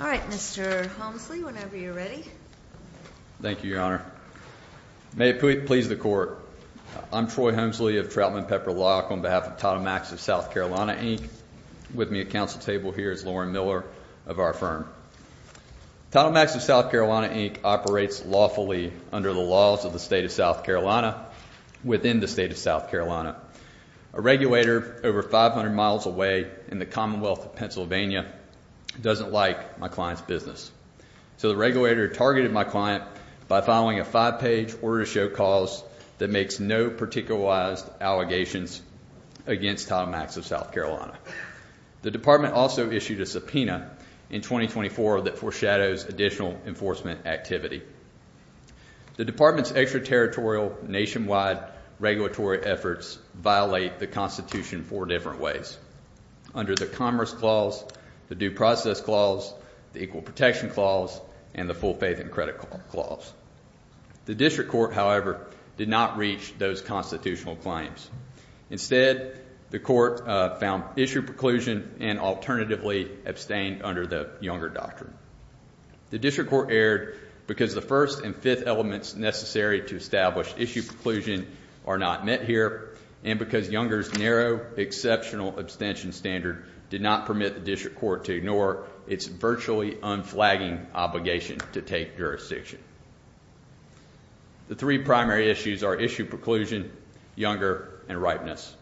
All right, Mr. Homsley, whenever you're ready. Thank you, Your Honor. May it please the Court. I'm Troy Homsley of Trautman Pepper Lock on behalf of TitleMax of South Carolina, Inc. With me at council table here is Lauren Miller of our firm. TitleMax of South Carolina, Inc. operates lawfully under the laws of the state of South Carolina within the state of South Carolina. A regulator over 500 miles away in the Commonwealth of Pennsylvania doesn't like my client's business. So the regulator targeted my client by filing a five-page order to show cause that makes no particularized allegations against TitleMax of South Carolina. The department also issued a subpoena in 2024 that foreshadows additional enforcement activity. The department's extraterritorial nationwide regulatory efforts violate the Constitution in four different ways, under the Commerce Clause, the Due Process Clause, the Equal Protection Clause, and the Full Faith and Credit Clause. The district court, however, did not reach those constitutional claims. Instead, the court found issue preclusion and alternatively abstained under the Younger Doctrine. The district court erred because the first and fifth elements necessary to establish issue preclusion are not met here, and because Younger's narrow, exceptional abstention standard did not permit the district court to ignore its virtually unflagging obligation to take jurisdiction. The three primary issues are issue preclusion, Younger, and ripeness.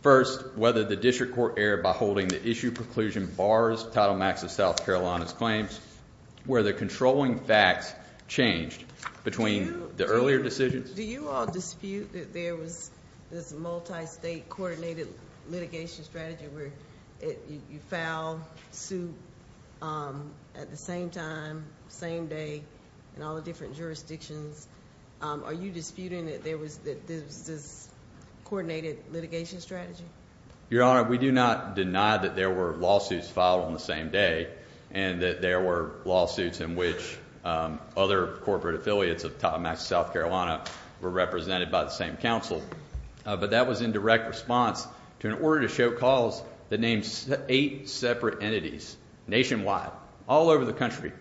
First, whether the district court erred by holding the issue preclusion bars TitleMax of South Carolina's claims, where the controlling facts changed between the earlier decisions. Do you all dispute that there was this multi-state coordinated litigation strategy where you file suit at the same time, same day, in all the different jurisdictions? Are you disputing that there was this coordinated litigation strategy? Your Honor, we do not deny that there were lawsuits filed on the same day and that there were lawsuits in which other corporate affiliates of TitleMax of South Carolina were represented by the same counsel, but that was in direct response to an order to show calls that named eight separate entities nationwide, all over the country.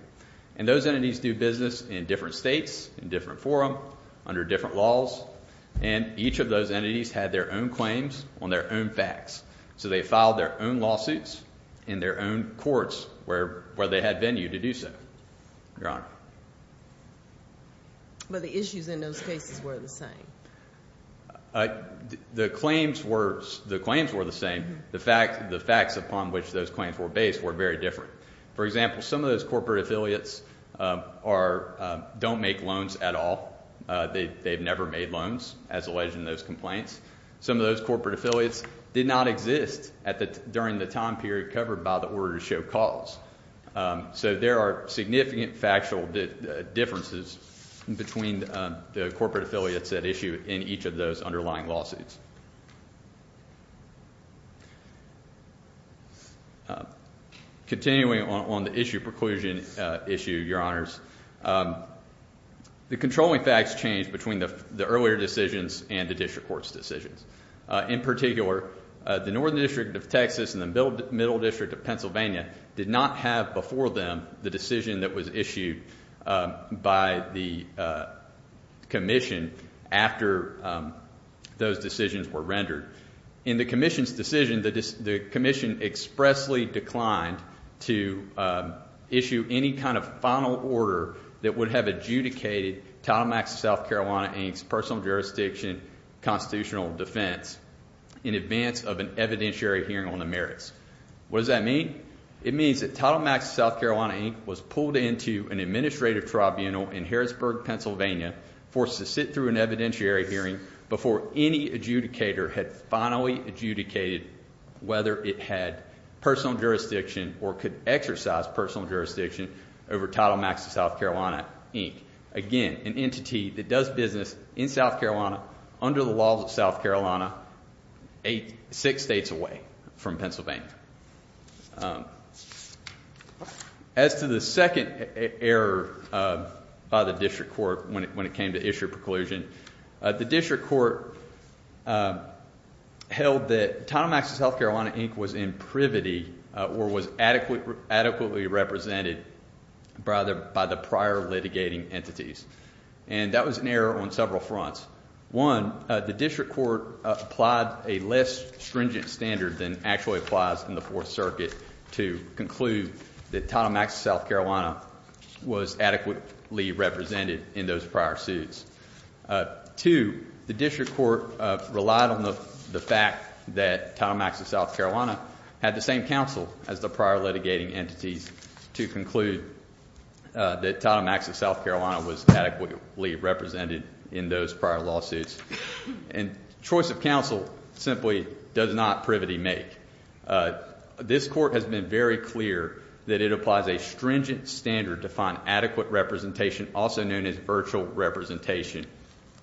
And those entities do business in different states, in different forum, under different laws, and each of those entities had their own claims on their own facts. So they filed their own lawsuits in their own courts where they had venue to do so, Your Honor. But the issues in those cases were the same? The claims were the same. The facts upon which those claims were based were very different. For example, some of those corporate affiliates don't make loans at all. They've never made loans as alleged in those complaints. Some of those corporate affiliates did not exist during the time period covered by the order to show calls. So there are significant factual differences between the corporate affiliates that issue in each of those underlying lawsuits. Continuing on the issue of preclusion issue, Your Honors, the controlling facts change between the earlier decisions and the district court's decisions. In particular, the Northern District of Texas and the Middle District of Pennsylvania did not have before them the decision that was issued by the commission after those decisions were rendered. In the commission's decision, the commission expressly declined to issue any kind of final order that would have adjudicated Title Max of South Carolina, Inc.'s personal jurisdiction constitutional defense in advance of an evidentiary hearing on the merits. What does that mean? It means that Title Max of South Carolina, Inc. was pulled into an administrative tribunal in Harrisburg, Pennsylvania, forced to sit through an evidentiary hearing before any adjudicator had finally adjudicated whether it had personal jurisdiction or could exercise personal jurisdiction over Title Max of South Carolina, Inc. Again, an entity that does business in South Carolina under the laws of South Carolina, six states away from Pennsylvania. As to the second error by the district court when it came to issue of preclusion, the district court held that Title Max of South Carolina, Inc. was in privity or was adequately represented by the prior litigating entities. And that was an error on several fronts. One, the district court applied a less stringent standard than actually applies in the Fourth Circuit to conclude that Title Max of South Carolina was adequately represented in those prior suits. Two, the district court relied on the fact that Title Max of South Carolina had the same counsel as the prior litigating entities to conclude that Title Max of South Carolina was adequately represented in those prior lawsuits. And choice of counsel simply does not privity make. This court has been very clear that it applies a stringent standard to find adequate representation, also known as virtual representation.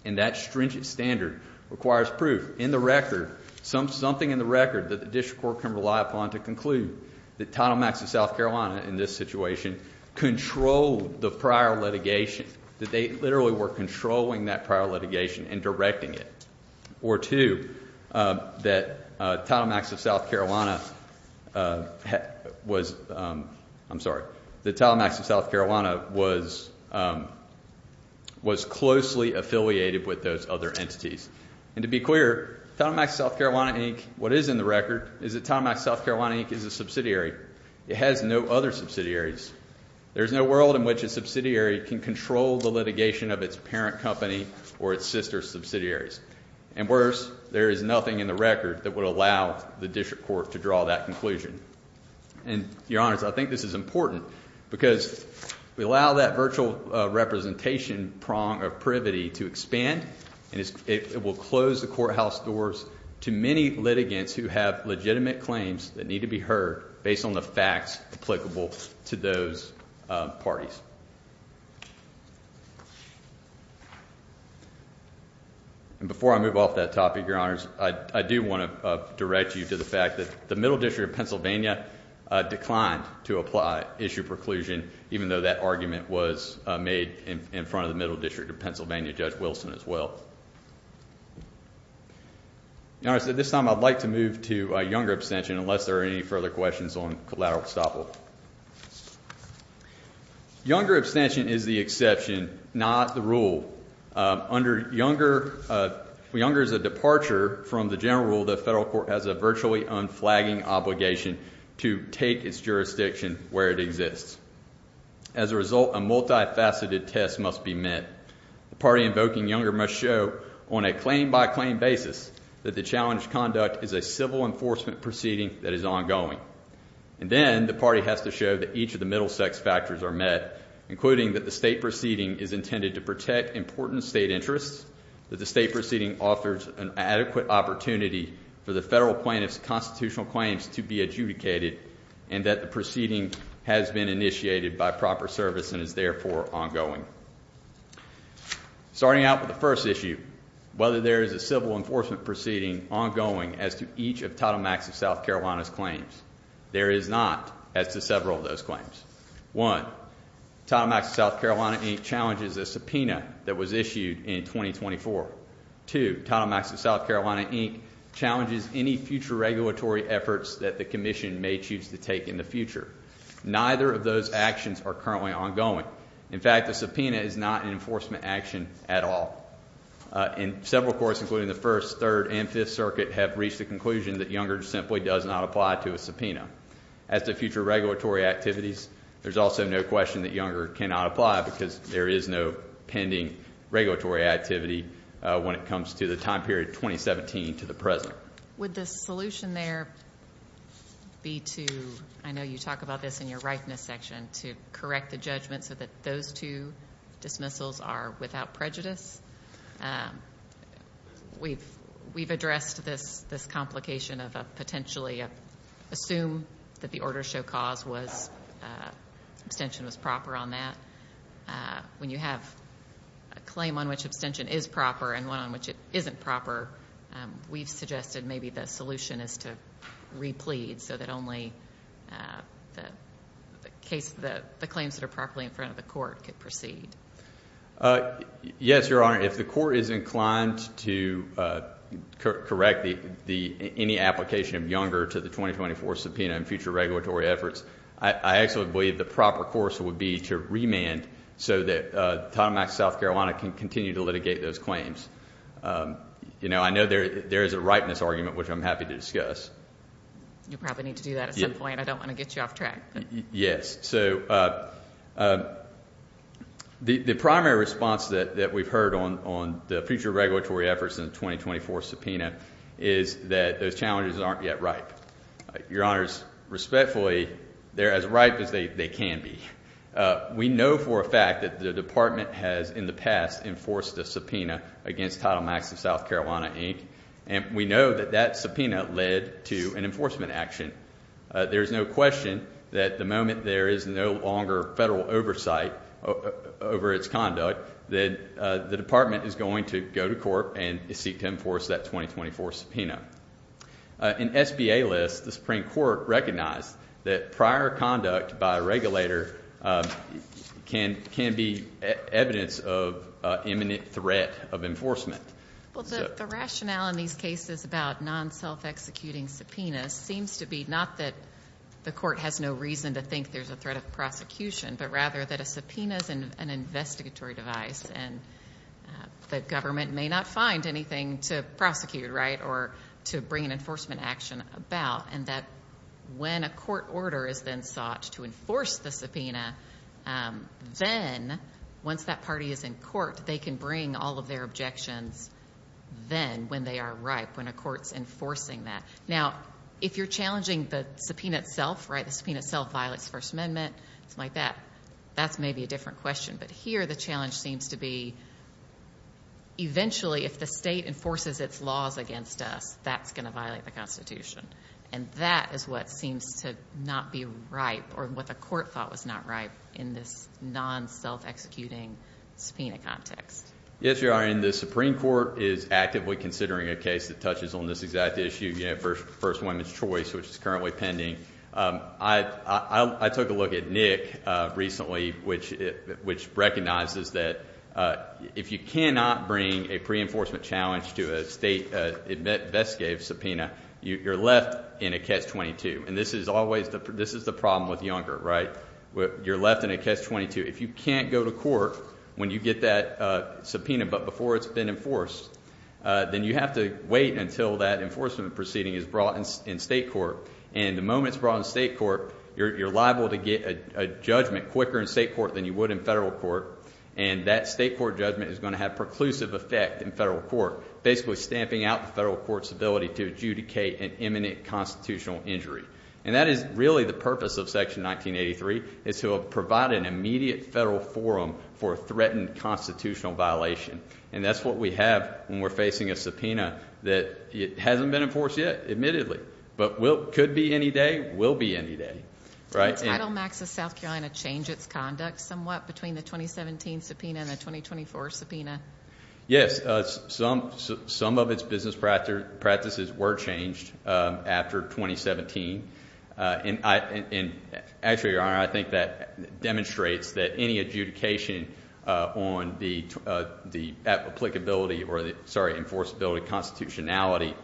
And that stringent standard requires proof in the record, something in the record, that the district court can rely upon to conclude that Title Max of South Carolina in this situation controlled the prior litigation, that they literally were controlling that prior litigation and directing it. Or two, that Title Max of South Carolina was, I'm sorry, that Title Max of South Carolina was closely affiliated with those other entities. And to be clear, Title Max of South Carolina, Inc., what is in the record is that Title Max of South Carolina, Inc. is a subsidiary. It has no other subsidiaries. There is no world in which a subsidiary can control the litigation of its parent company or its sister subsidiaries. And worse, there is nothing in the record that would allow the district court to draw that conclusion. And, Your Honors, I think this is important because we allow that virtual representation prong of privity to expand, and it will close the courthouse doors to many litigants who have legitimate claims that need to be heard based on the facts applicable to those parties. And before I move off that topic, Your Honors, I do want to direct you to the fact that the Middle District of Pennsylvania declined to apply issue preclusion, even though that argument was made in front of the Middle District of Pennsylvania Judge Wilson as well. Your Honors, at this time, I'd like to move to younger abstention, unless there are any further questions on collateral estoppel. Younger abstention is the exception, not the rule. Under Younger's departure from the general rule, the federal court has a virtually unflagging obligation to take its jurisdiction where it exists. As a result, a multifaceted test must be met. The party invoking Younger must show, on a claim-by-claim basis, that the challenged conduct is a civil enforcement proceeding that is ongoing. And then the party has to show that each of the middle sex factors are met, including that the state proceeding is intended to protect important state interests, that the state proceeding offers an adequate opportunity for the federal plaintiff's constitutional claims to be adjudicated, and that the proceeding has been initiated by proper service and is therefore ongoing. Starting out with the first issue, whether there is a civil enforcement proceeding ongoing as to each of Title Max of South Carolina's claims. There is not as to several of those claims. One, Title Max of South Carolina, Inc., challenges a subpoena that was issued in 2024. Two, Title Max of South Carolina, Inc., challenges any future regulatory efforts that the commission may choose to take in the future. Neither of those actions are currently ongoing. In fact, the subpoena is not an enforcement action at all. And several courts, including the First, Third, and Fifth Circuit, have reached the conclusion that Younger simply does not apply to a subpoena. As to future regulatory activities, there's also no question that Younger cannot apply because there is no pending regulatory activity when it comes to the time period 2017 to the present. Would the solution there be to, I know you talk about this in your rightness section, to correct the judgment so that those two dismissals are without prejudice? We've addressed this complication of potentially assume that the order show cause was abstention was proper on that. When you have a claim on which abstention is proper and one on which it isn't proper, we've suggested maybe the solution is to replead so that only the claims that are properly in front of the court could proceed. Yes, Your Honor. If the court is inclined to correct any application of Younger to the 2024 subpoena in future regulatory efforts, I actually believe the proper course would be to remand so that Title IX South Carolina can continue to litigate those claims. You know, I know there is a rightness argument, which I'm happy to discuss. You probably need to do that at some point. I don't want to get you off track. Yes. So the primary response that we've heard on the future regulatory efforts in the 2024 subpoena is that those challenges aren't yet ripe. Your Honors, respectfully, they're as ripe as they can be. We know for a fact that the department has in the past enforced a subpoena against Title IX of South Carolina, Inc. And we know that that subpoena led to an enforcement action. There is no question that the moment there is no longer federal oversight over its conduct, that the department is going to go to court and seek to enforce that 2024 subpoena. In SBA lists, the Supreme Court recognized that prior conduct by a regulator can be evidence of imminent threat of enforcement. Well, the rationale in these cases about non-self-executing subpoenas seems to be not that the court has no reason to think there's a threat of prosecution, but rather that a subpoena is an investigatory device, and the government may not find anything to prosecute, right, or to bring an enforcement action about, and that when a court order is then sought to enforce the subpoena, then once that party is in court, they can bring all of their objections then when they are ripe, when a court's enforcing that. Now, if you're challenging the subpoena itself, right, the subpoena itself violates the First Amendment, something like that, that's maybe a different question. But here the challenge seems to be eventually if the state enforces its laws against us, that's going to violate the Constitution. And that is what seems to not be ripe, or what the court thought was not ripe in this non-self-executing subpoena context. Yes, Your Honor, and the Supreme Court is actively considering a case that touches on this exact issue, First Amendment's choice, which is currently pending. I took a look at Nick recently, which recognizes that if you cannot bring a pre-enforcement challenge to a state investigative subpoena, you're left in a catch-22. And this is always the problem with Younger, right? You're left in a catch-22. If you can't go to court when you get that subpoena but before it's been enforced, then you have to wait until that enforcement proceeding is brought in state court. And the moment it's brought in state court, you're liable to get a judgment quicker in state court than you would in federal court. And that state court judgment is going to have preclusive effect in federal court, basically stamping out the federal court's ability to adjudicate an imminent constitutional injury. And that is really the purpose of Section 1983, is to provide an immediate federal forum for a threatened constitutional violation. And that's what we have when we're facing a subpoena that hasn't been enforced yet, admittedly, but could be any day, will be any day. Did Title Max of South Carolina change its conduct somewhat between the 2017 subpoena and the 2024 subpoena? Yes. Some of its business practices were changed after 2017. And actually, Your Honor, I think that demonstrates that any adjudication on the applicability or the, sorry, enforceability constitutionality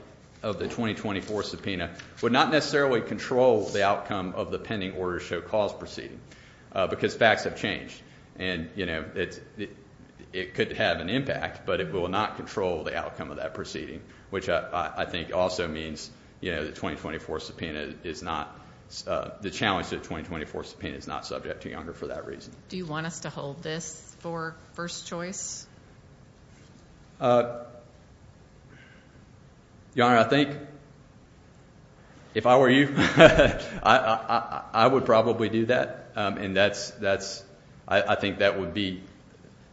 of the 2024 subpoena would not necessarily control the outcome of the pending order to show cause proceeding, because facts have changed. And, you know, it could have an impact, but it will not control the outcome of that proceeding, which I think also means, you know, the 2024 subpoena is not, the challenge to the 2024 subpoena is not subject to younger for that reason. Do you want us to hold this for first choice? Your Honor, I think if I were you, I would probably do that. And that's, I think that would be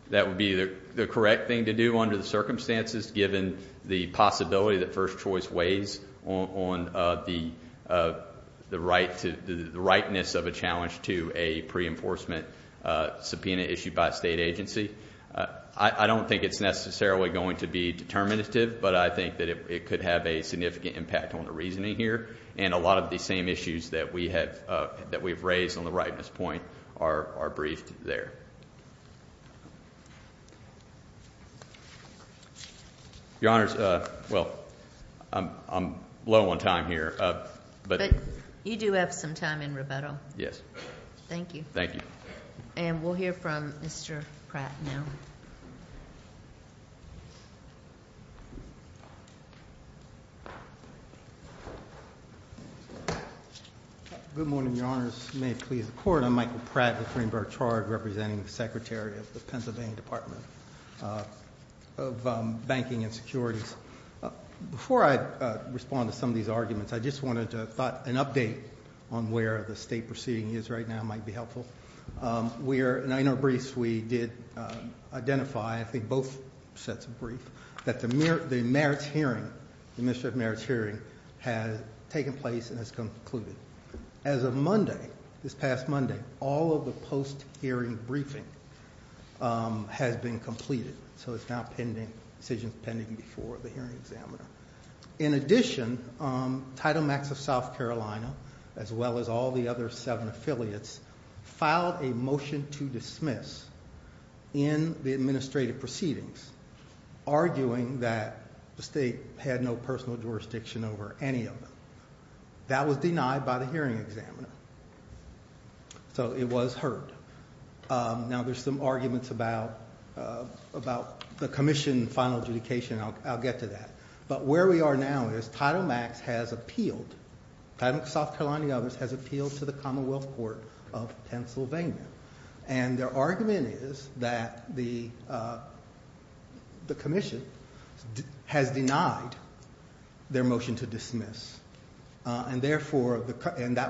the correct thing to do under the circumstances, given the possibility that first choice weighs on the rightness of a challenge to a pre-enforcement subpoena issued by a state agency. I don't think it's necessarily going to be determinative, but I think that it could have a significant impact on the reasoning here. And a lot of the same issues that we have, that we've raised on the rightness point are briefed there. Your Honor's, well, I'm low on time here. But you do have some time in rebuttal. Yes. Thank you. Thank you. And we'll hear from Mr. Pratt now. Good morning, Your Honors. May it please the Court. I'm Michael Pratt with Greenberg Charge, representing the Secretary of the Pennsylvania Department of Banking and Securities. Before I respond to some of these arguments, I just wanted to thought an update on where the state proceeding is right now might be helpful. We are, in our briefs, we did identify, I think both sets of briefs, that the merits hearing, the administrative merits hearing has taken place and has concluded. As of Monday, this past Monday, all of the post-hearing briefing has been completed. So it's now pending, decisions pending before the hearing examiner. In addition, Title Max of South Carolina, as well as all the other seven affiliates, filed a motion to dismiss in the administrative proceedings, arguing that the state had no personal jurisdiction over any of them. That was denied by the hearing examiner. So it was heard. Now, there's some arguments about the commission final adjudication. I'll get to that. But where we are now is Title Max has appealed. Title Max of South Carolina and the others has appealed to the Commonwealth Court of Pennsylvania. And their argument is that the commission has denied their motion to dismiss. And that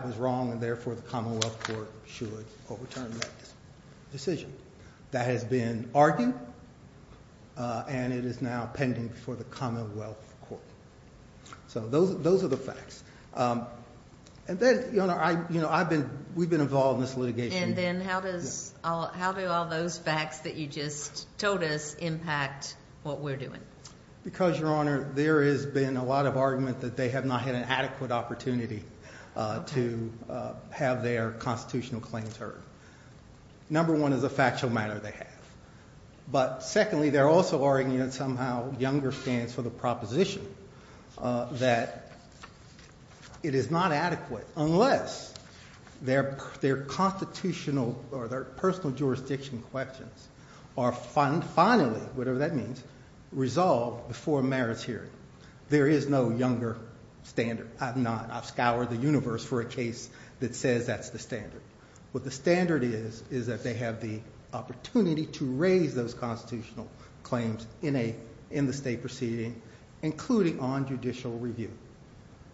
was wrong, and therefore the Commonwealth Court should overturn that decision. That has been argued, and it is now pending before the Commonwealth Court. So those are the facts. And then, you know, we've been involved in this litigation. And then how do all those facts that you just told us impact what we're doing? Because, Your Honor, there has been a lot of argument that they have not had an adequate opportunity to have their constitutional claims heard. Number one is a factual matter they have. But secondly, they're also arguing that somehow younger stands for the proposition that it is not adequate unless their constitutional or their personal jurisdiction questions are finally, whatever that means, resolved before a merits hearing. There is no younger standard. I'm not. I've scoured the universe for a case that says that's the standard. What the standard is is that they have the opportunity to raise those constitutional claims in the state proceeding, including on judicial review.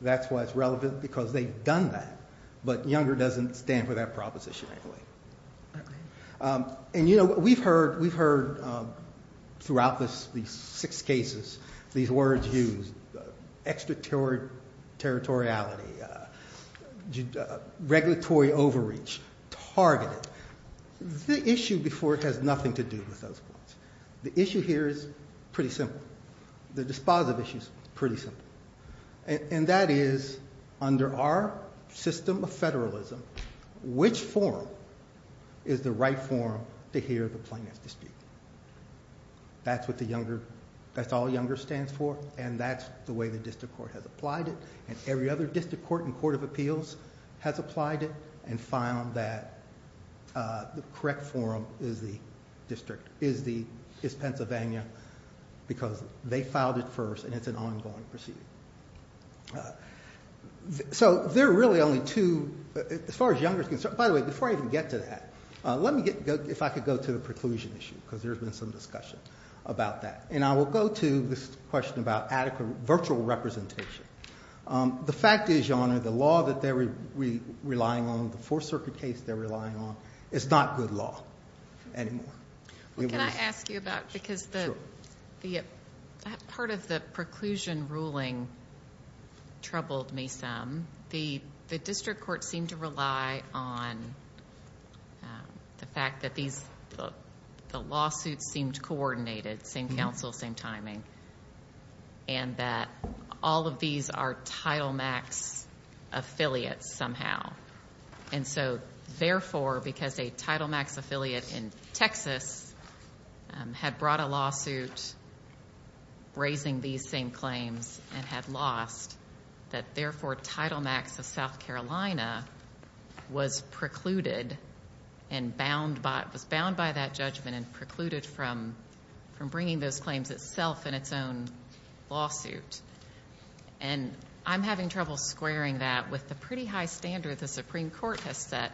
That's why it's relevant, because they've done that. But younger doesn't stand for that proposition anyway. And, you know, we've heard throughout these six cases these words used, extraterritoriality, regulatory overreach, targeted. The issue before has nothing to do with those points. The issue here is pretty simple. The dispositive issue is pretty simple. And that is, under our system of federalism, which forum is the right forum to hear the plaintiff's dispute? That's what the younger, that's all younger stands for, and that's the way the district court has applied it, and every other district court and court of appeals has applied it and found that the correct forum is the district, is Pennsylvania, because they filed it first and it's an ongoing proceeding. So there are really only two, as far as younger is concerned. By the way, before I even get to that, let me get, if I could go to the preclusion issue, because there's been some discussion about that. And I will go to this question about adequate virtual representation. The fact is, Your Honor, the law that they're relying on, the Fourth Circuit case they're relying on, is not good law anymore. Well, can I ask you about, because part of the preclusion ruling troubled me some. The district court seemed to rely on the fact that the lawsuits seemed coordinated, same counsel, same timing, and that all of these are Title Max affiliates somehow. And so therefore, because a Title Max affiliate in Texas had brought a lawsuit raising these same claims and had lost, that therefore Title Max of South Carolina was precluded and bound by, was bound by that judgment and precluded from bringing those claims itself in its own lawsuit. And I'm having trouble squaring that with the pretty high standard the Supreme Court has set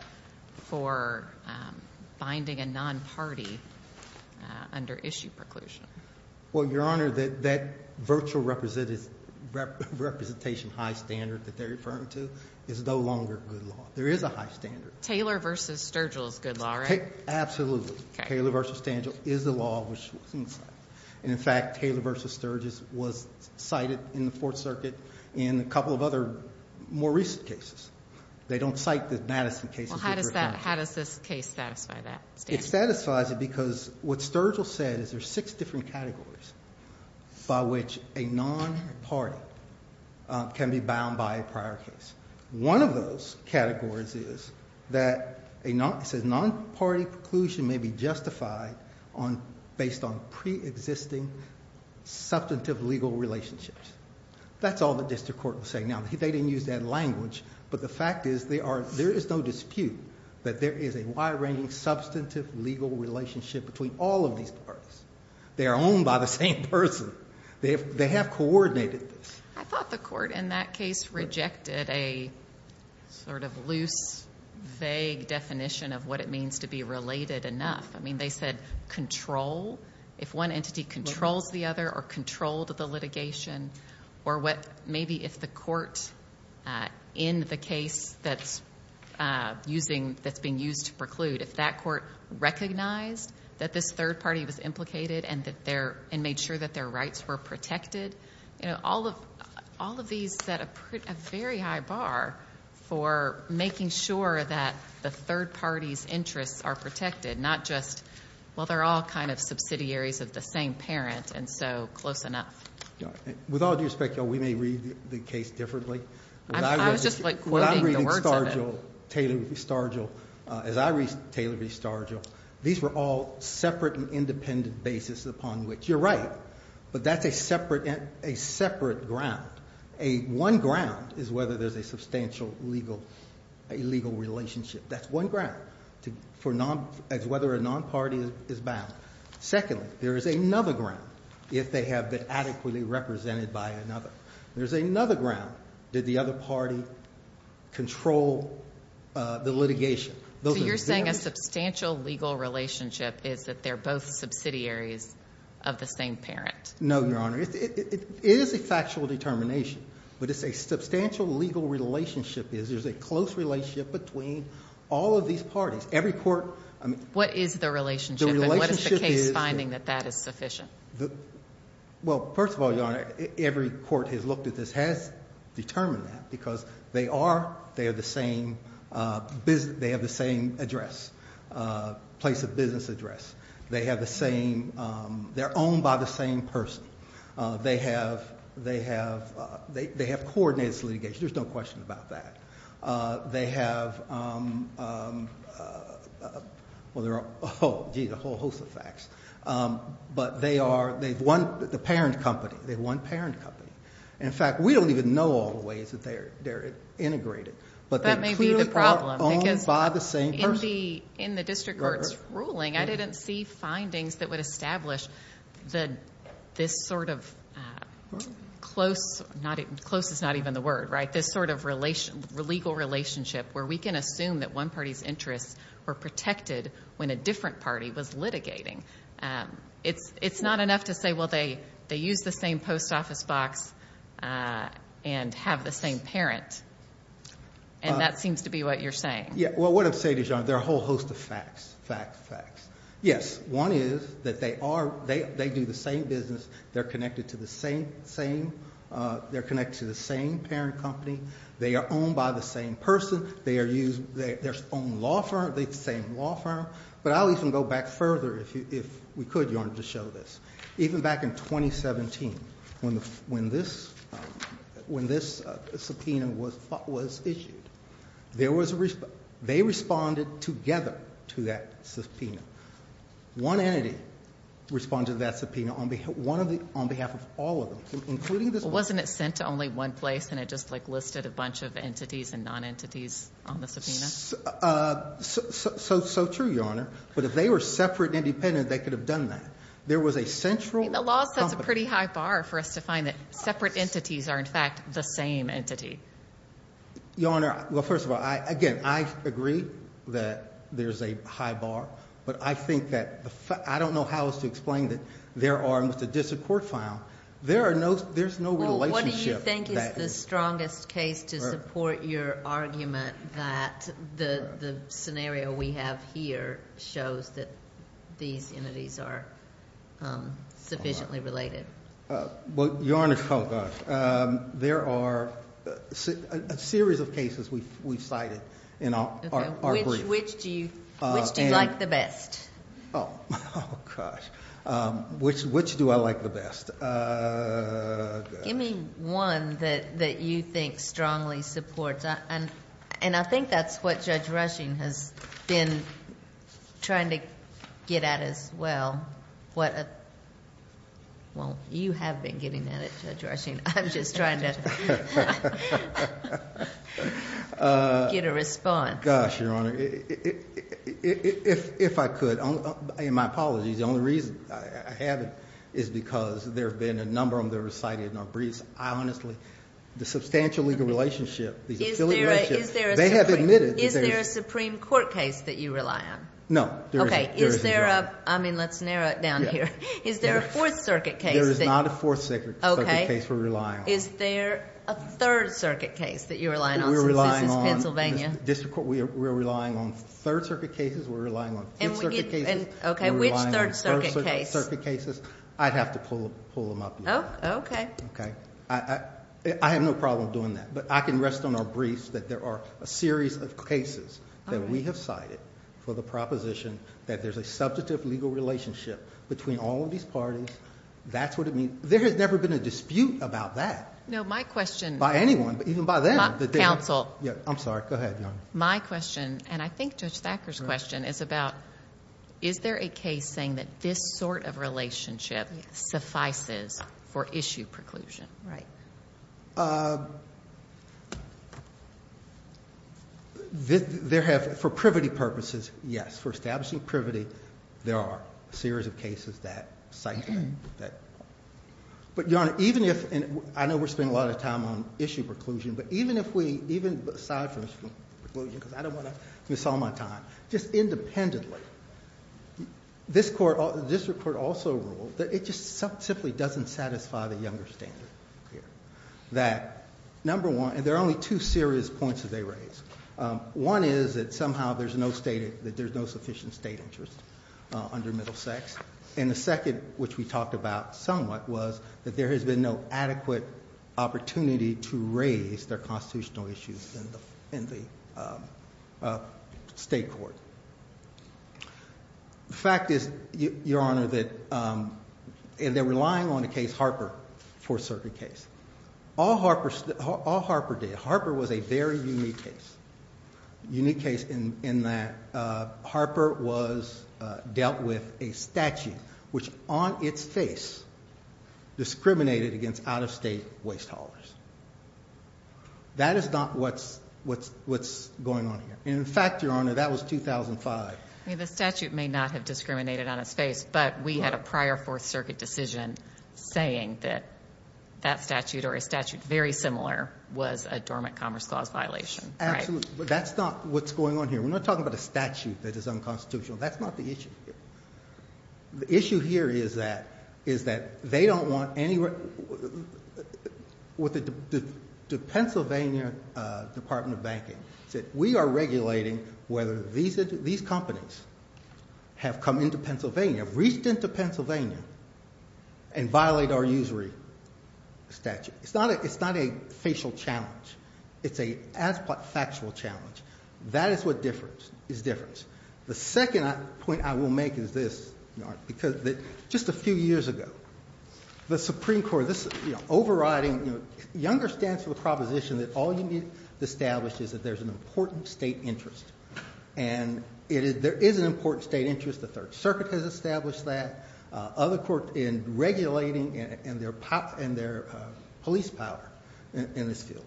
for binding a non-party under issue preclusion. Well, Your Honor, that virtual representation high standard that they're referring to is no longer good law. There is a high standard. Taylor v. Sturgill is good law, right? Absolutely. Okay. Taylor v. Sturgill is the law. And, in fact, Taylor v. Sturgill was cited in the Fourth Circuit in a couple of other more recent cases. They don't cite the Madison cases. Well, how does that, how does this case satisfy that standard? It satisfies it because what Sturgill said is there are six different categories by which a non-party can be bound by a prior case. One of those categories is that a non-party preclusion may be justified on, based on preexisting substantive legal relationships. That's all the district court was saying. Now, they didn't use that language, but the fact is there is no dispute that there is a wide-ranging substantive legal relationship between all of these parties. They are owned by the same person. They have coordinated this. I thought the court in that case rejected a sort of loose, vague definition of what it means to be related enough. I mean, they said control. If one entity controls the other or controlled the litigation, or maybe if the court in the case that's being used to preclude, if that court recognized that this third party was implicated and made sure that their rights were protected, all of these set a very high bar for making sure that the third party's interests are protected, not just, well, they're all kind of subsidiaries of the same parent and so close enough. With all due respect, we may read the case differently. I was just, like, quoting the words of it. When I read Sturgill, Taylor v. Sturgill, as I read Taylor v. Sturgill, these were all separate and independent basis upon which, you're right, but that's a separate ground. One ground is whether there's a substantial legal relationship. That's one ground as whether a non-party is bound. Secondly, there is another ground if they have been adequately represented by another. There's another ground. Did the other party control the litigation? So you're saying a substantial legal relationship is that they're both subsidiaries of the same parent? No, Your Honor. It is a factual determination, but it's a substantial legal relationship is there's a close relationship between all of these parties. Every court ñ What is the relationship and what is the case finding that that is sufficient? Well, first of all, Your Honor, every court has looked at this, has determined that, because they are the same ñ they have the same address, place of business address. They have the same ñ they're owned by the same person. They have coordinated this litigation. There's no question about that. They have ñ well, there are a whole host of facts. But they are ñ they've won the parent company. They've won parent company. In fact, we don't even know all the ways that they're integrated. But they're clearly owned by the same person. That may be the problem, because in the district court's ruling, I didn't see findings that would establish this sort of close ñ close is not even the word, right? This sort of legal relationship where we can assume that one party's interests were protected when a different party was litigating. It's not enough to say, well, they use the same post office box and have the same parent. And that seems to be what you're saying. Yeah. Well, what I'm saying is, Your Honor, there are a whole host of facts, facts, facts. Yes, one is that they are ñ they do the same business. They're connected to the same ñ they're connected to the same parent company. They are owned by the same person. They are used ñ their own law firm, the same law firm. But I'll even go back further if we could, Your Honor, to show this. Even back in 2017, when this ñ when this subpoena was issued, there was a ñ they responded together to that subpoena. One entity responded to that subpoena on behalf of all of them, including this one. Well, wasn't it sent to only one place and it just, like, listed a bunch of entities and non-entities on the subpoena? So true, Your Honor. But if they were separate and independent, they could have done that. There was a central ñ I mean, the law sets a pretty high bar for us to find that separate entities are, in fact, the same entity. Your Honor, well, first of all, again, I agree that there's a high bar. But I think that ñ I don't know how else to explain that there are ñ and with the distant court file, there are no ñ there's no relationship that ñ the scenario we have here shows that these entities are sufficiently related. Well, Your Honor, there are a series of cases we've cited in our brief. Which do you like the best? Oh, gosh. Which do I like the best? Give me one that you think strongly supports. And I think that's what Judge Rushing has been trying to get at as well. What a ñ well, you have been getting at it, Judge Rushing. I'm just trying to get a response. Gosh, Your Honor. If I could, and my apologies. The only reason I have it is because there have been a number of them that were cited in our briefs. I honestly ñ the substantial legal relationship, the affiliate relationship, they have admitted that there's ñ Is there a Supreme Court case that you rely on? No, there isn't. Okay. Is there a ñ I mean, let's narrow it down here. Is there a Fourth Circuit case that ñ There is not a Fourth Circuit case we're relying on. Is there a Third Circuit case that you're relying on since this is Pennsylvania? We're relying on ñ we're relying on Third Circuit cases. We're relying on Fifth Circuit cases. Okay. Which Third Circuit case? We're relying on Third Circuit cases. I'd have to pull them up, Your Honor. Oh, okay. Okay. I have no problem doing that. But I can rest on our briefs that there are a series of cases that we have cited for the proposition that there's a substantive legal relationship between all of these parties. That's what it means. There has never been a dispute about that. No, my question ñ By anyone, even by them. Counsel. I'm sorry. Go ahead, Your Honor. My question, and I think Judge Thacker's question, is about is there a case saying that this sort of relationship suffices for issue preclusion? There have ñ for privity purposes, yes. For establishing privity, there are a series of cases that cite that. But, Your Honor, even if ñ and I know we're spending a lot of time on issue preclusion. But even if we ñ even aside from issue preclusion, because I don't want to miss all my time. Just independently, this court ñ the district court also ruled that it just simply doesn't satisfy the Younger standard here. That, number one ñ and there are only two serious points that they raise. One is that somehow there's no stated ñ that there's no sufficient state interest under middle sex. And the second, which we talked about somewhat, was that there has been no adequate opportunity to raise their constitutional issues in the state court. The fact is, Your Honor, that they're relying on the case Harper for a certain case. All Harper did ñ Harper was a very unique case. Unique case in that Harper was ñ dealt with a statute which, on its face, discriminated against out-of-state waste haulers. That is not what's going on here. And, in fact, Your Honor, that was 2005. I mean, the statute may not have discriminated on its face. But we had a prior Fourth Circuit decision saying that that statute or a statute very similar was a dormant commerce clause violation. Absolutely. But that's not what's going on here. We're not talking about a statute that is unconstitutional. That's not the issue here. The issue here is that they don't want any ñ the Pennsylvania Department of Banking said, ìWe are regulating whether these companies have come into Pennsylvania, have reached into Pennsylvania, and violate our usury statute.î It's not a facial challenge. It's a factual challenge. That is what is different. The second point I will make is this, Your Honor, because just a few years ago, the Supreme Court, this overriding ñ Younger stands for the proposition that all you need to establish is that there's an important state interest. And there is an important state interest. The Third Circuit has established that. Other courts in regulating and their police power in this field.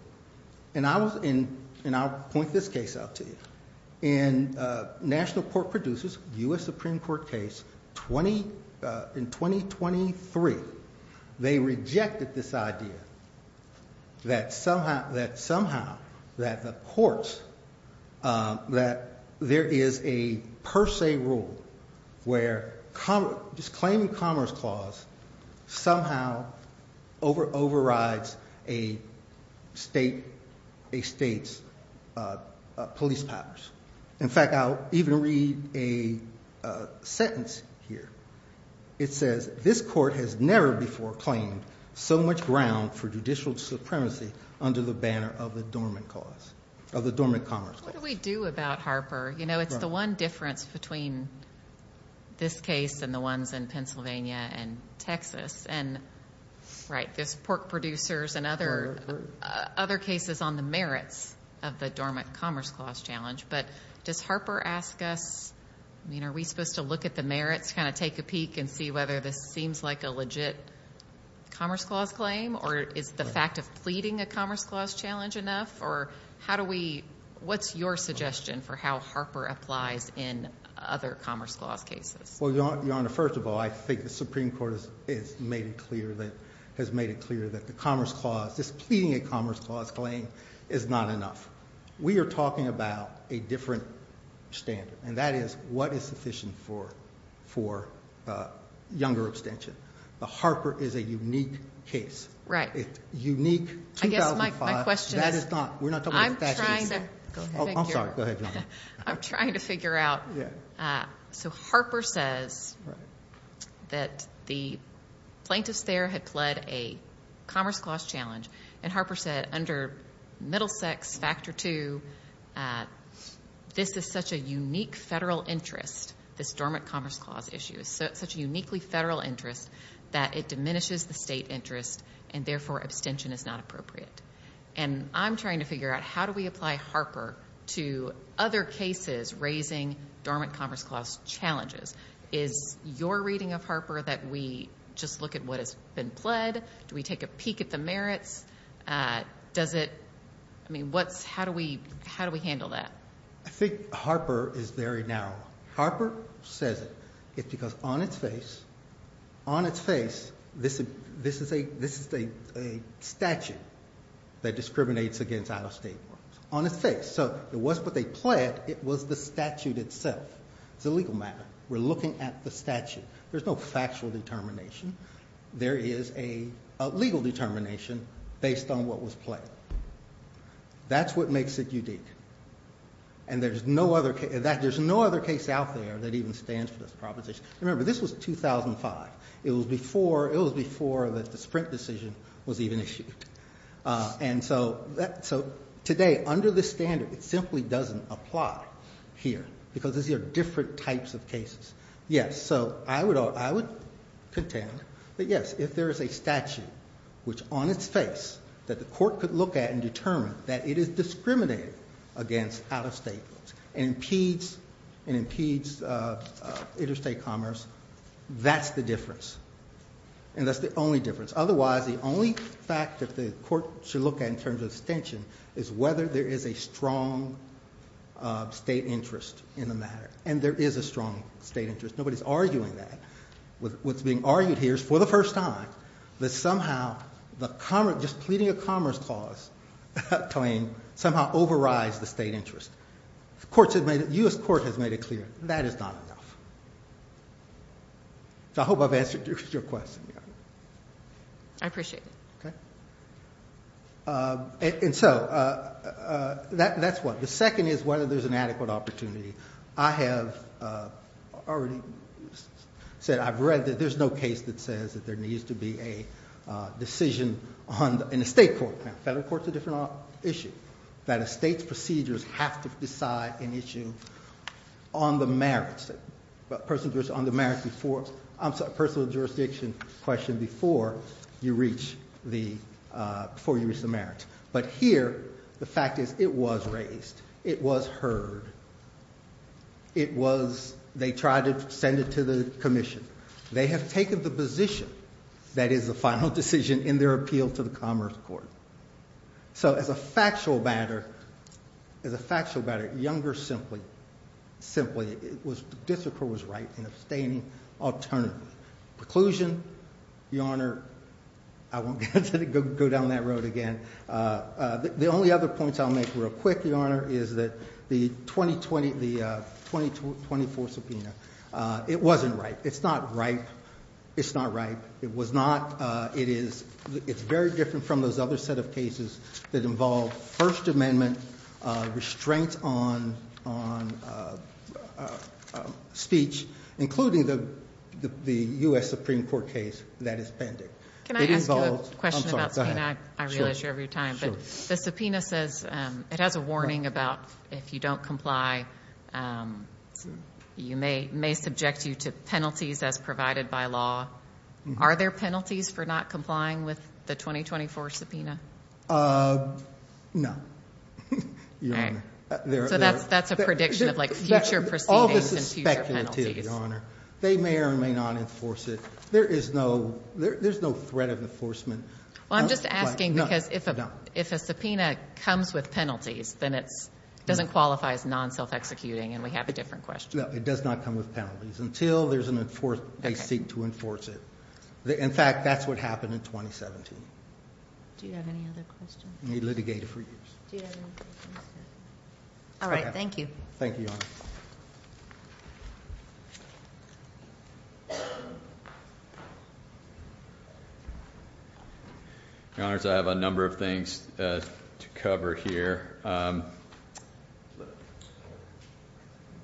And I was in ñ and I'll point this case out to you. In national court producers, U.S. Supreme Court case 20 ñ in 2023, they rejected this idea that somehow, that the courts, that there is a per se rule where just claiming commerce clause somehow overrides a state's police powers. In fact, I'll even read a sentence here. It says, ìThis court has never before claimed so much ground for judicial supremacy under the banner of the Dormant Commerce Clause.î What do we do about Harper? You know, it's the one difference between this case and the ones in Pennsylvania and Texas. And, right, there's pork producers and other cases on the merits of the Dormant Commerce Clause challenge. But does Harper ask us ñ I mean, are we supposed to look at the merits? Kind of take a peek and see whether this seems like a legit commerce clause claim? Or is the fact of pleading a commerce clause challenge enough? Or how do we ñ what's your suggestion for how Harper applies in other commerce clause cases? Well, Your Honor, first of all, I think the Supreme Court has made it clear that the commerce clause, this pleading a commerce clause claim is not enough. We are talking about a different standard, and that is what is sufficient for younger abstention. But Harper is a unique case. Right. It's unique 2005. I guess my question is ñ That is not ñ we're not talking about a fascist case. I'm trying to ñ go ahead. Thank you. I'm sorry. Go ahead, Your Honor. I'm trying to figure out. So Harper says that the plaintiffs there had pled a commerce clause challenge. And Harper said under Middlesex Factor 2, this is such a unique federal interest, this dormant commerce clause issue is such a uniquely federal interest that it diminishes the state interest and therefore abstention is not appropriate. And I'm trying to figure out how do we apply Harper to other cases raising dormant commerce clause challenges. Is your reading of Harper that we just look at what has been pled? Do we take a peek at the merits? Does it ñ I mean, what's ñ how do we ñ how do we handle that? I think Harper is very narrow. Harper says it. It's because on its face, on its face, this is a statute that discriminates against out-of-state workers. On its face. So it wasn't what they pled, it was the statute itself. It's a legal matter. We're looking at the statute. There's no factual determination. There is a legal determination based on what was pled. That's what makes it unique. And there's no other case out there that even stands for this proposition. Remember, this was 2005. It was before the Sprint decision was even issued. And so today, under this standard, it simply doesn't apply here because these are different types of cases. Yes, so I would contend that, yes, if there is a statute which, on its face, that the court could look at and determine that it is discriminating against out-of-state workers and impedes interstate commerce, that's the difference. And that's the only difference. Otherwise, the only fact that the court should look at in terms of extension is whether there is a strong state interest in the matter. And there is a strong state interest. Nobody's arguing that. What's being argued here is, for the first time, that somehow just pleading a commerce clause claim somehow overrides the state interest. The U.S. Court has made it clear that is not enough. So I hope I've answered your question. I appreciate it. And so that's one. The second is whether there's an adequate opportunity. I have already said I've read that there's no case that says that there needs to be a decision in a state court. Now, federal court's a different issue. That a state's procedures have to decide an issue on the merits, a personal jurisdiction question before you reach the merits. But here, the fact is it was raised. It was heard. It was they tried to send it to the commission. They have taken the position that is the final decision in their appeal to the Commerce Court. So as a factual matter, as a factual matter, Younger simply, simply, the district court was right in abstaining alternatively. Preclusion, Your Honor, I won't go down that road again. The only other points I'll make real quick, Your Honor, is that the 2020, the 2024 subpoena, it wasn't right. It's not right. It's not right. It was not. It is. It's very different from those other set of cases that involve First Amendment restraint on speech, including the U.S. Supreme Court case that is pending. Can I ask you a question about the subpoena? I realize you're out of your time, but the subpoena says it has a warning about if you don't comply, you may subject you to penalties as provided by law. Are there penalties for not complying with the 2024 subpoena? No, Your Honor. So that's a prediction of like future proceedings and future penalties. All this is speculative, Your Honor. They may or may not enforce it. There is no threat of enforcement. Well, I'm just asking because if a subpoena comes with penalties, then it doesn't qualify as non-self-executing, and we have a different question. No, it does not come with penalties until they seek to enforce it. In fact, that's what happened in 2017. Do you have any other questions? We litigated for years. Do you have any questions? All right. Thank you. Thank you, Your Honor. Your Honors, I have a number of things to cover here. Let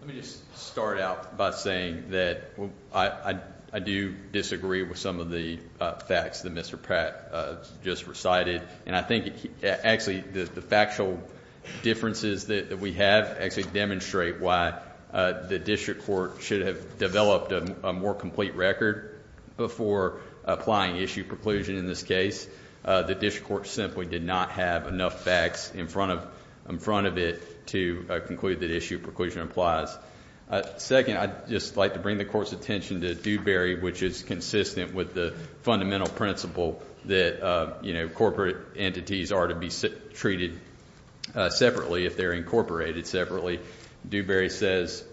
me just start out by saying that I do disagree with some of the facts that Mr. Pratt just recited, and I think actually the factual differences that we have actually demonstrate why the district court should have developed a more complete record before applying issue preclusion in this case. The district court simply did not have enough facts in front of it to conclude that issue preclusion applies. Second, I'd just like to bring the Court's attention to Dewberry, which is consistent with the fundamental principle that, you know, corporate entities are to be treated separately if they're incorporated separately. Dewberry says,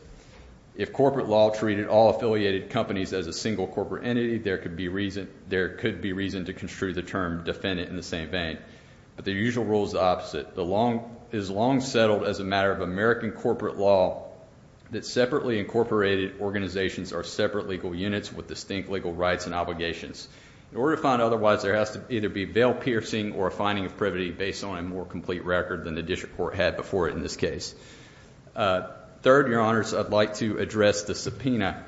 if corporate law treated all affiliated companies as a single corporate entity, there could be reason to construe the term defendant in the same vein. But the usual rule is the opposite. It is long settled as a matter of American corporate law that separately incorporated organizations are separate legal units with distinct legal rights and obligations. In order to find otherwise, there has to either be veil-piercing or a finding of privity based on a more complete record than the district court had before in this case. Third, Your Honors, I'd like to address the subpoena.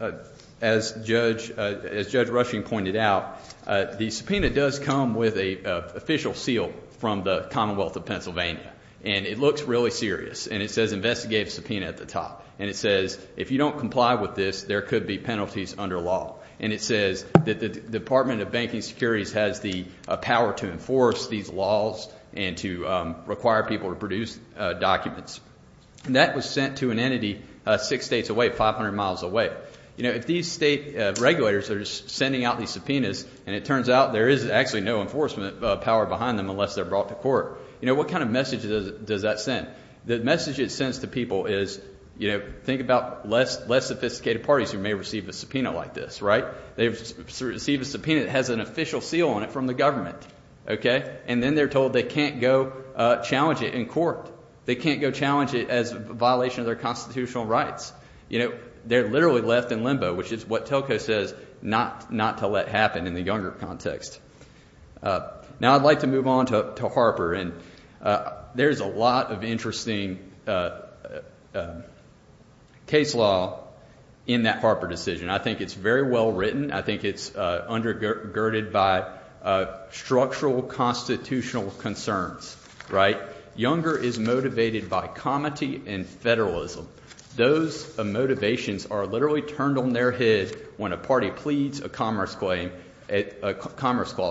As Judge Rushing pointed out, the subpoena does come with an official seal from the Commonwealth of Pennsylvania. And it looks really serious. And it says investigative subpoena at the top. And it says, if you don't comply with this, there could be penalties under law. And it says that the Department of Banking Securities has the power to enforce these laws and to require people to produce documents. And that was sent to an entity six states away, 500 miles away. You know, if these state regulators are sending out these subpoenas and it turns out there is actually no enforcement power behind them unless they're brought to court, you know, what kind of message does that send? The message it sends to people is, you know, think about less sophisticated parties who may receive a subpoena like this, right? They've received a subpoena that has an official seal on it from the government, okay? And then they're told they can't go challenge it in court. They can't go challenge it as a violation of their constitutional rights. You know, they're literally left in limbo, which is what Telco says not to let happen in the younger context. Now I'd like to move on to Harper. And there's a lot of interesting case law in that Harper decision. I think it's very well written. I think it's undergirded by structural constitutional concerns, right? Younger is motivated by comity and federalism. Those motivations are literally turned on their head when a party pleads a commerce clause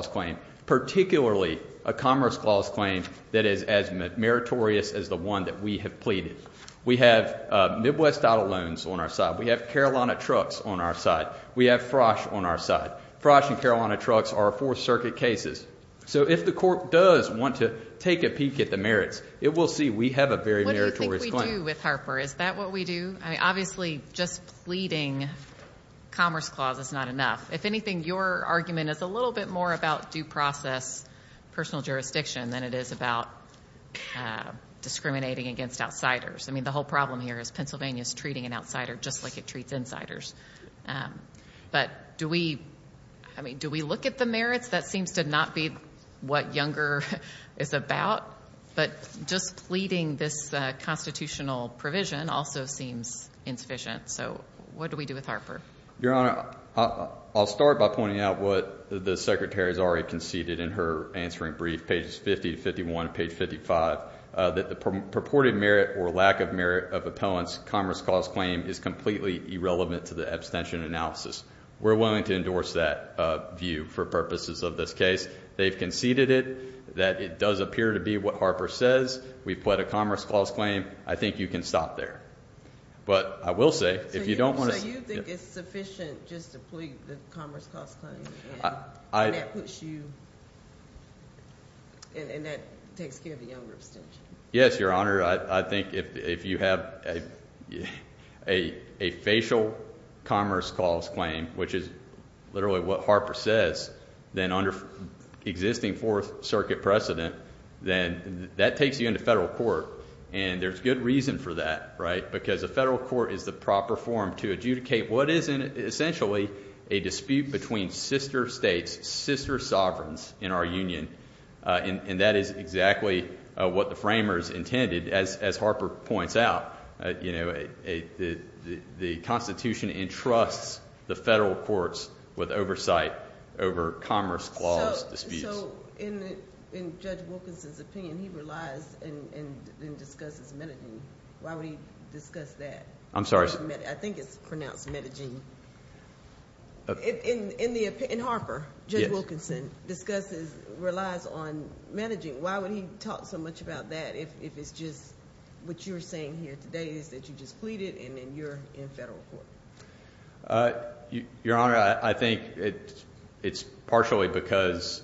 claim, particularly a commerce clause claim that is as meritorious as the one that we have pleaded. We have Midwest Auto Loans on our side. We have Carolina Trucks on our side. We have Frosh on our side. Frosh and Carolina Trucks are Fourth Circuit cases. So if the court does want to take a peek at the merits, it will see we have a very meritorious claim. What do you think we do with Harper? Is that what we do? I mean, obviously just pleading commerce clause is not enough. If anything, your argument is a little bit more about due process personal jurisdiction than it is about discriminating against outsiders. I mean, the whole problem here is Pennsylvania is treating an outsider just like it treats insiders. But do we look at the merits? That seems to not be what Younger is about. But just pleading this constitutional provision also seems insufficient. So what do we do with Harper? Your Honor, I'll start by pointing out what the Secretary has already conceded in her answering brief, pages 50 to 51, page 55, that the purported merit or lack of merit of appellant's commerce clause claim is completely irrelevant to the abstention analysis. We're willing to endorse that view for purposes of this case. They've conceded it, that it does appear to be what Harper says. We've pled a commerce clause claim. I think you can stop there. But I will say if you don't want to. So you think it's sufficient just to plead the commerce clause claim and that puts you and that takes care of the Younger abstention? Yes, Your Honor. I think if you have a facial commerce clause claim, which is literally what Harper says, then under existing Fourth Circuit precedent, then that takes you into federal court. And there's good reason for that, right, because a federal court is the proper form to adjudicate what is essentially a dispute between sister states, sister sovereigns in our union. And that is exactly what the framers intended, as Harper points out. The Constitution entrusts the federal courts with oversight over commerce clause disputes. So in Judge Wilkinson's opinion, he relies and discusses Medellin. Why would he discuss that? I'm sorry? I think it's pronounced Medellin. In Harper, Judge Wilkinson discusses, relies on Medellin. Why would he talk so much about that if it's just what you're saying here today is that you just pleaded and then you're in federal court? Your Honor, I think it's partially because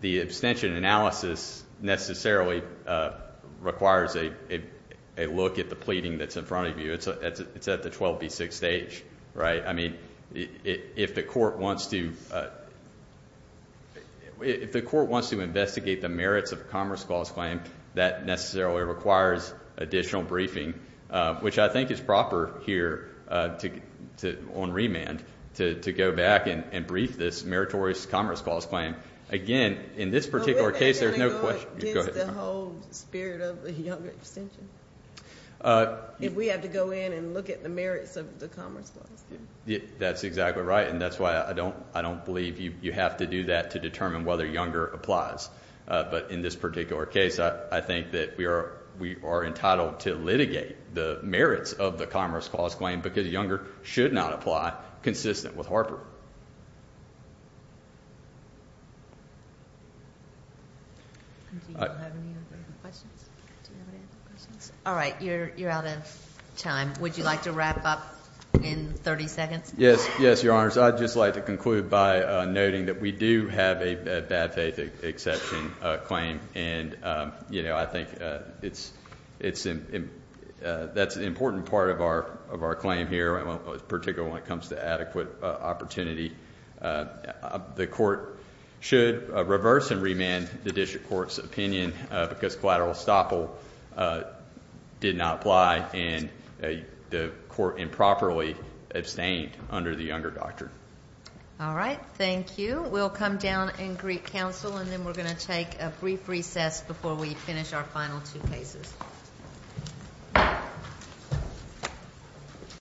the abstention analysis necessarily requires a look at the pleading that's in front of you. It's at the 12B6 stage, right? I mean, if the court wants to investigate the merits of a commerce clause claim, that necessarily requires additional briefing, which I think is proper here on remand to go back and brief this meritorious commerce clause claim. Again, in this particular case, there's no question. Is the whole spirit of the younger abstention? If we have to go in and look at the merits of the commerce clause? That's exactly right, and that's why I don't believe you have to do that to determine whether younger applies. But in this particular case, I think that we are entitled to litigate the merits of the commerce clause claim because younger should not apply consistent with Harper. Do you have any other questions? All right, you're out of time. Would you like to wrap up in 30 seconds? Yes, Your Honors. I'd just like to conclude by noting that we do have a bad faith exception claim, and I think that's an important part of our claim here, particularly when it comes to adequate opportunity. The court should reverse and remand the district court's opinion because collateral estoppel did not apply and the court improperly abstained under the younger doctrine. All right, thank you. We'll come down and greet counsel, and then we're going to take a brief recess before we finish our final two cases.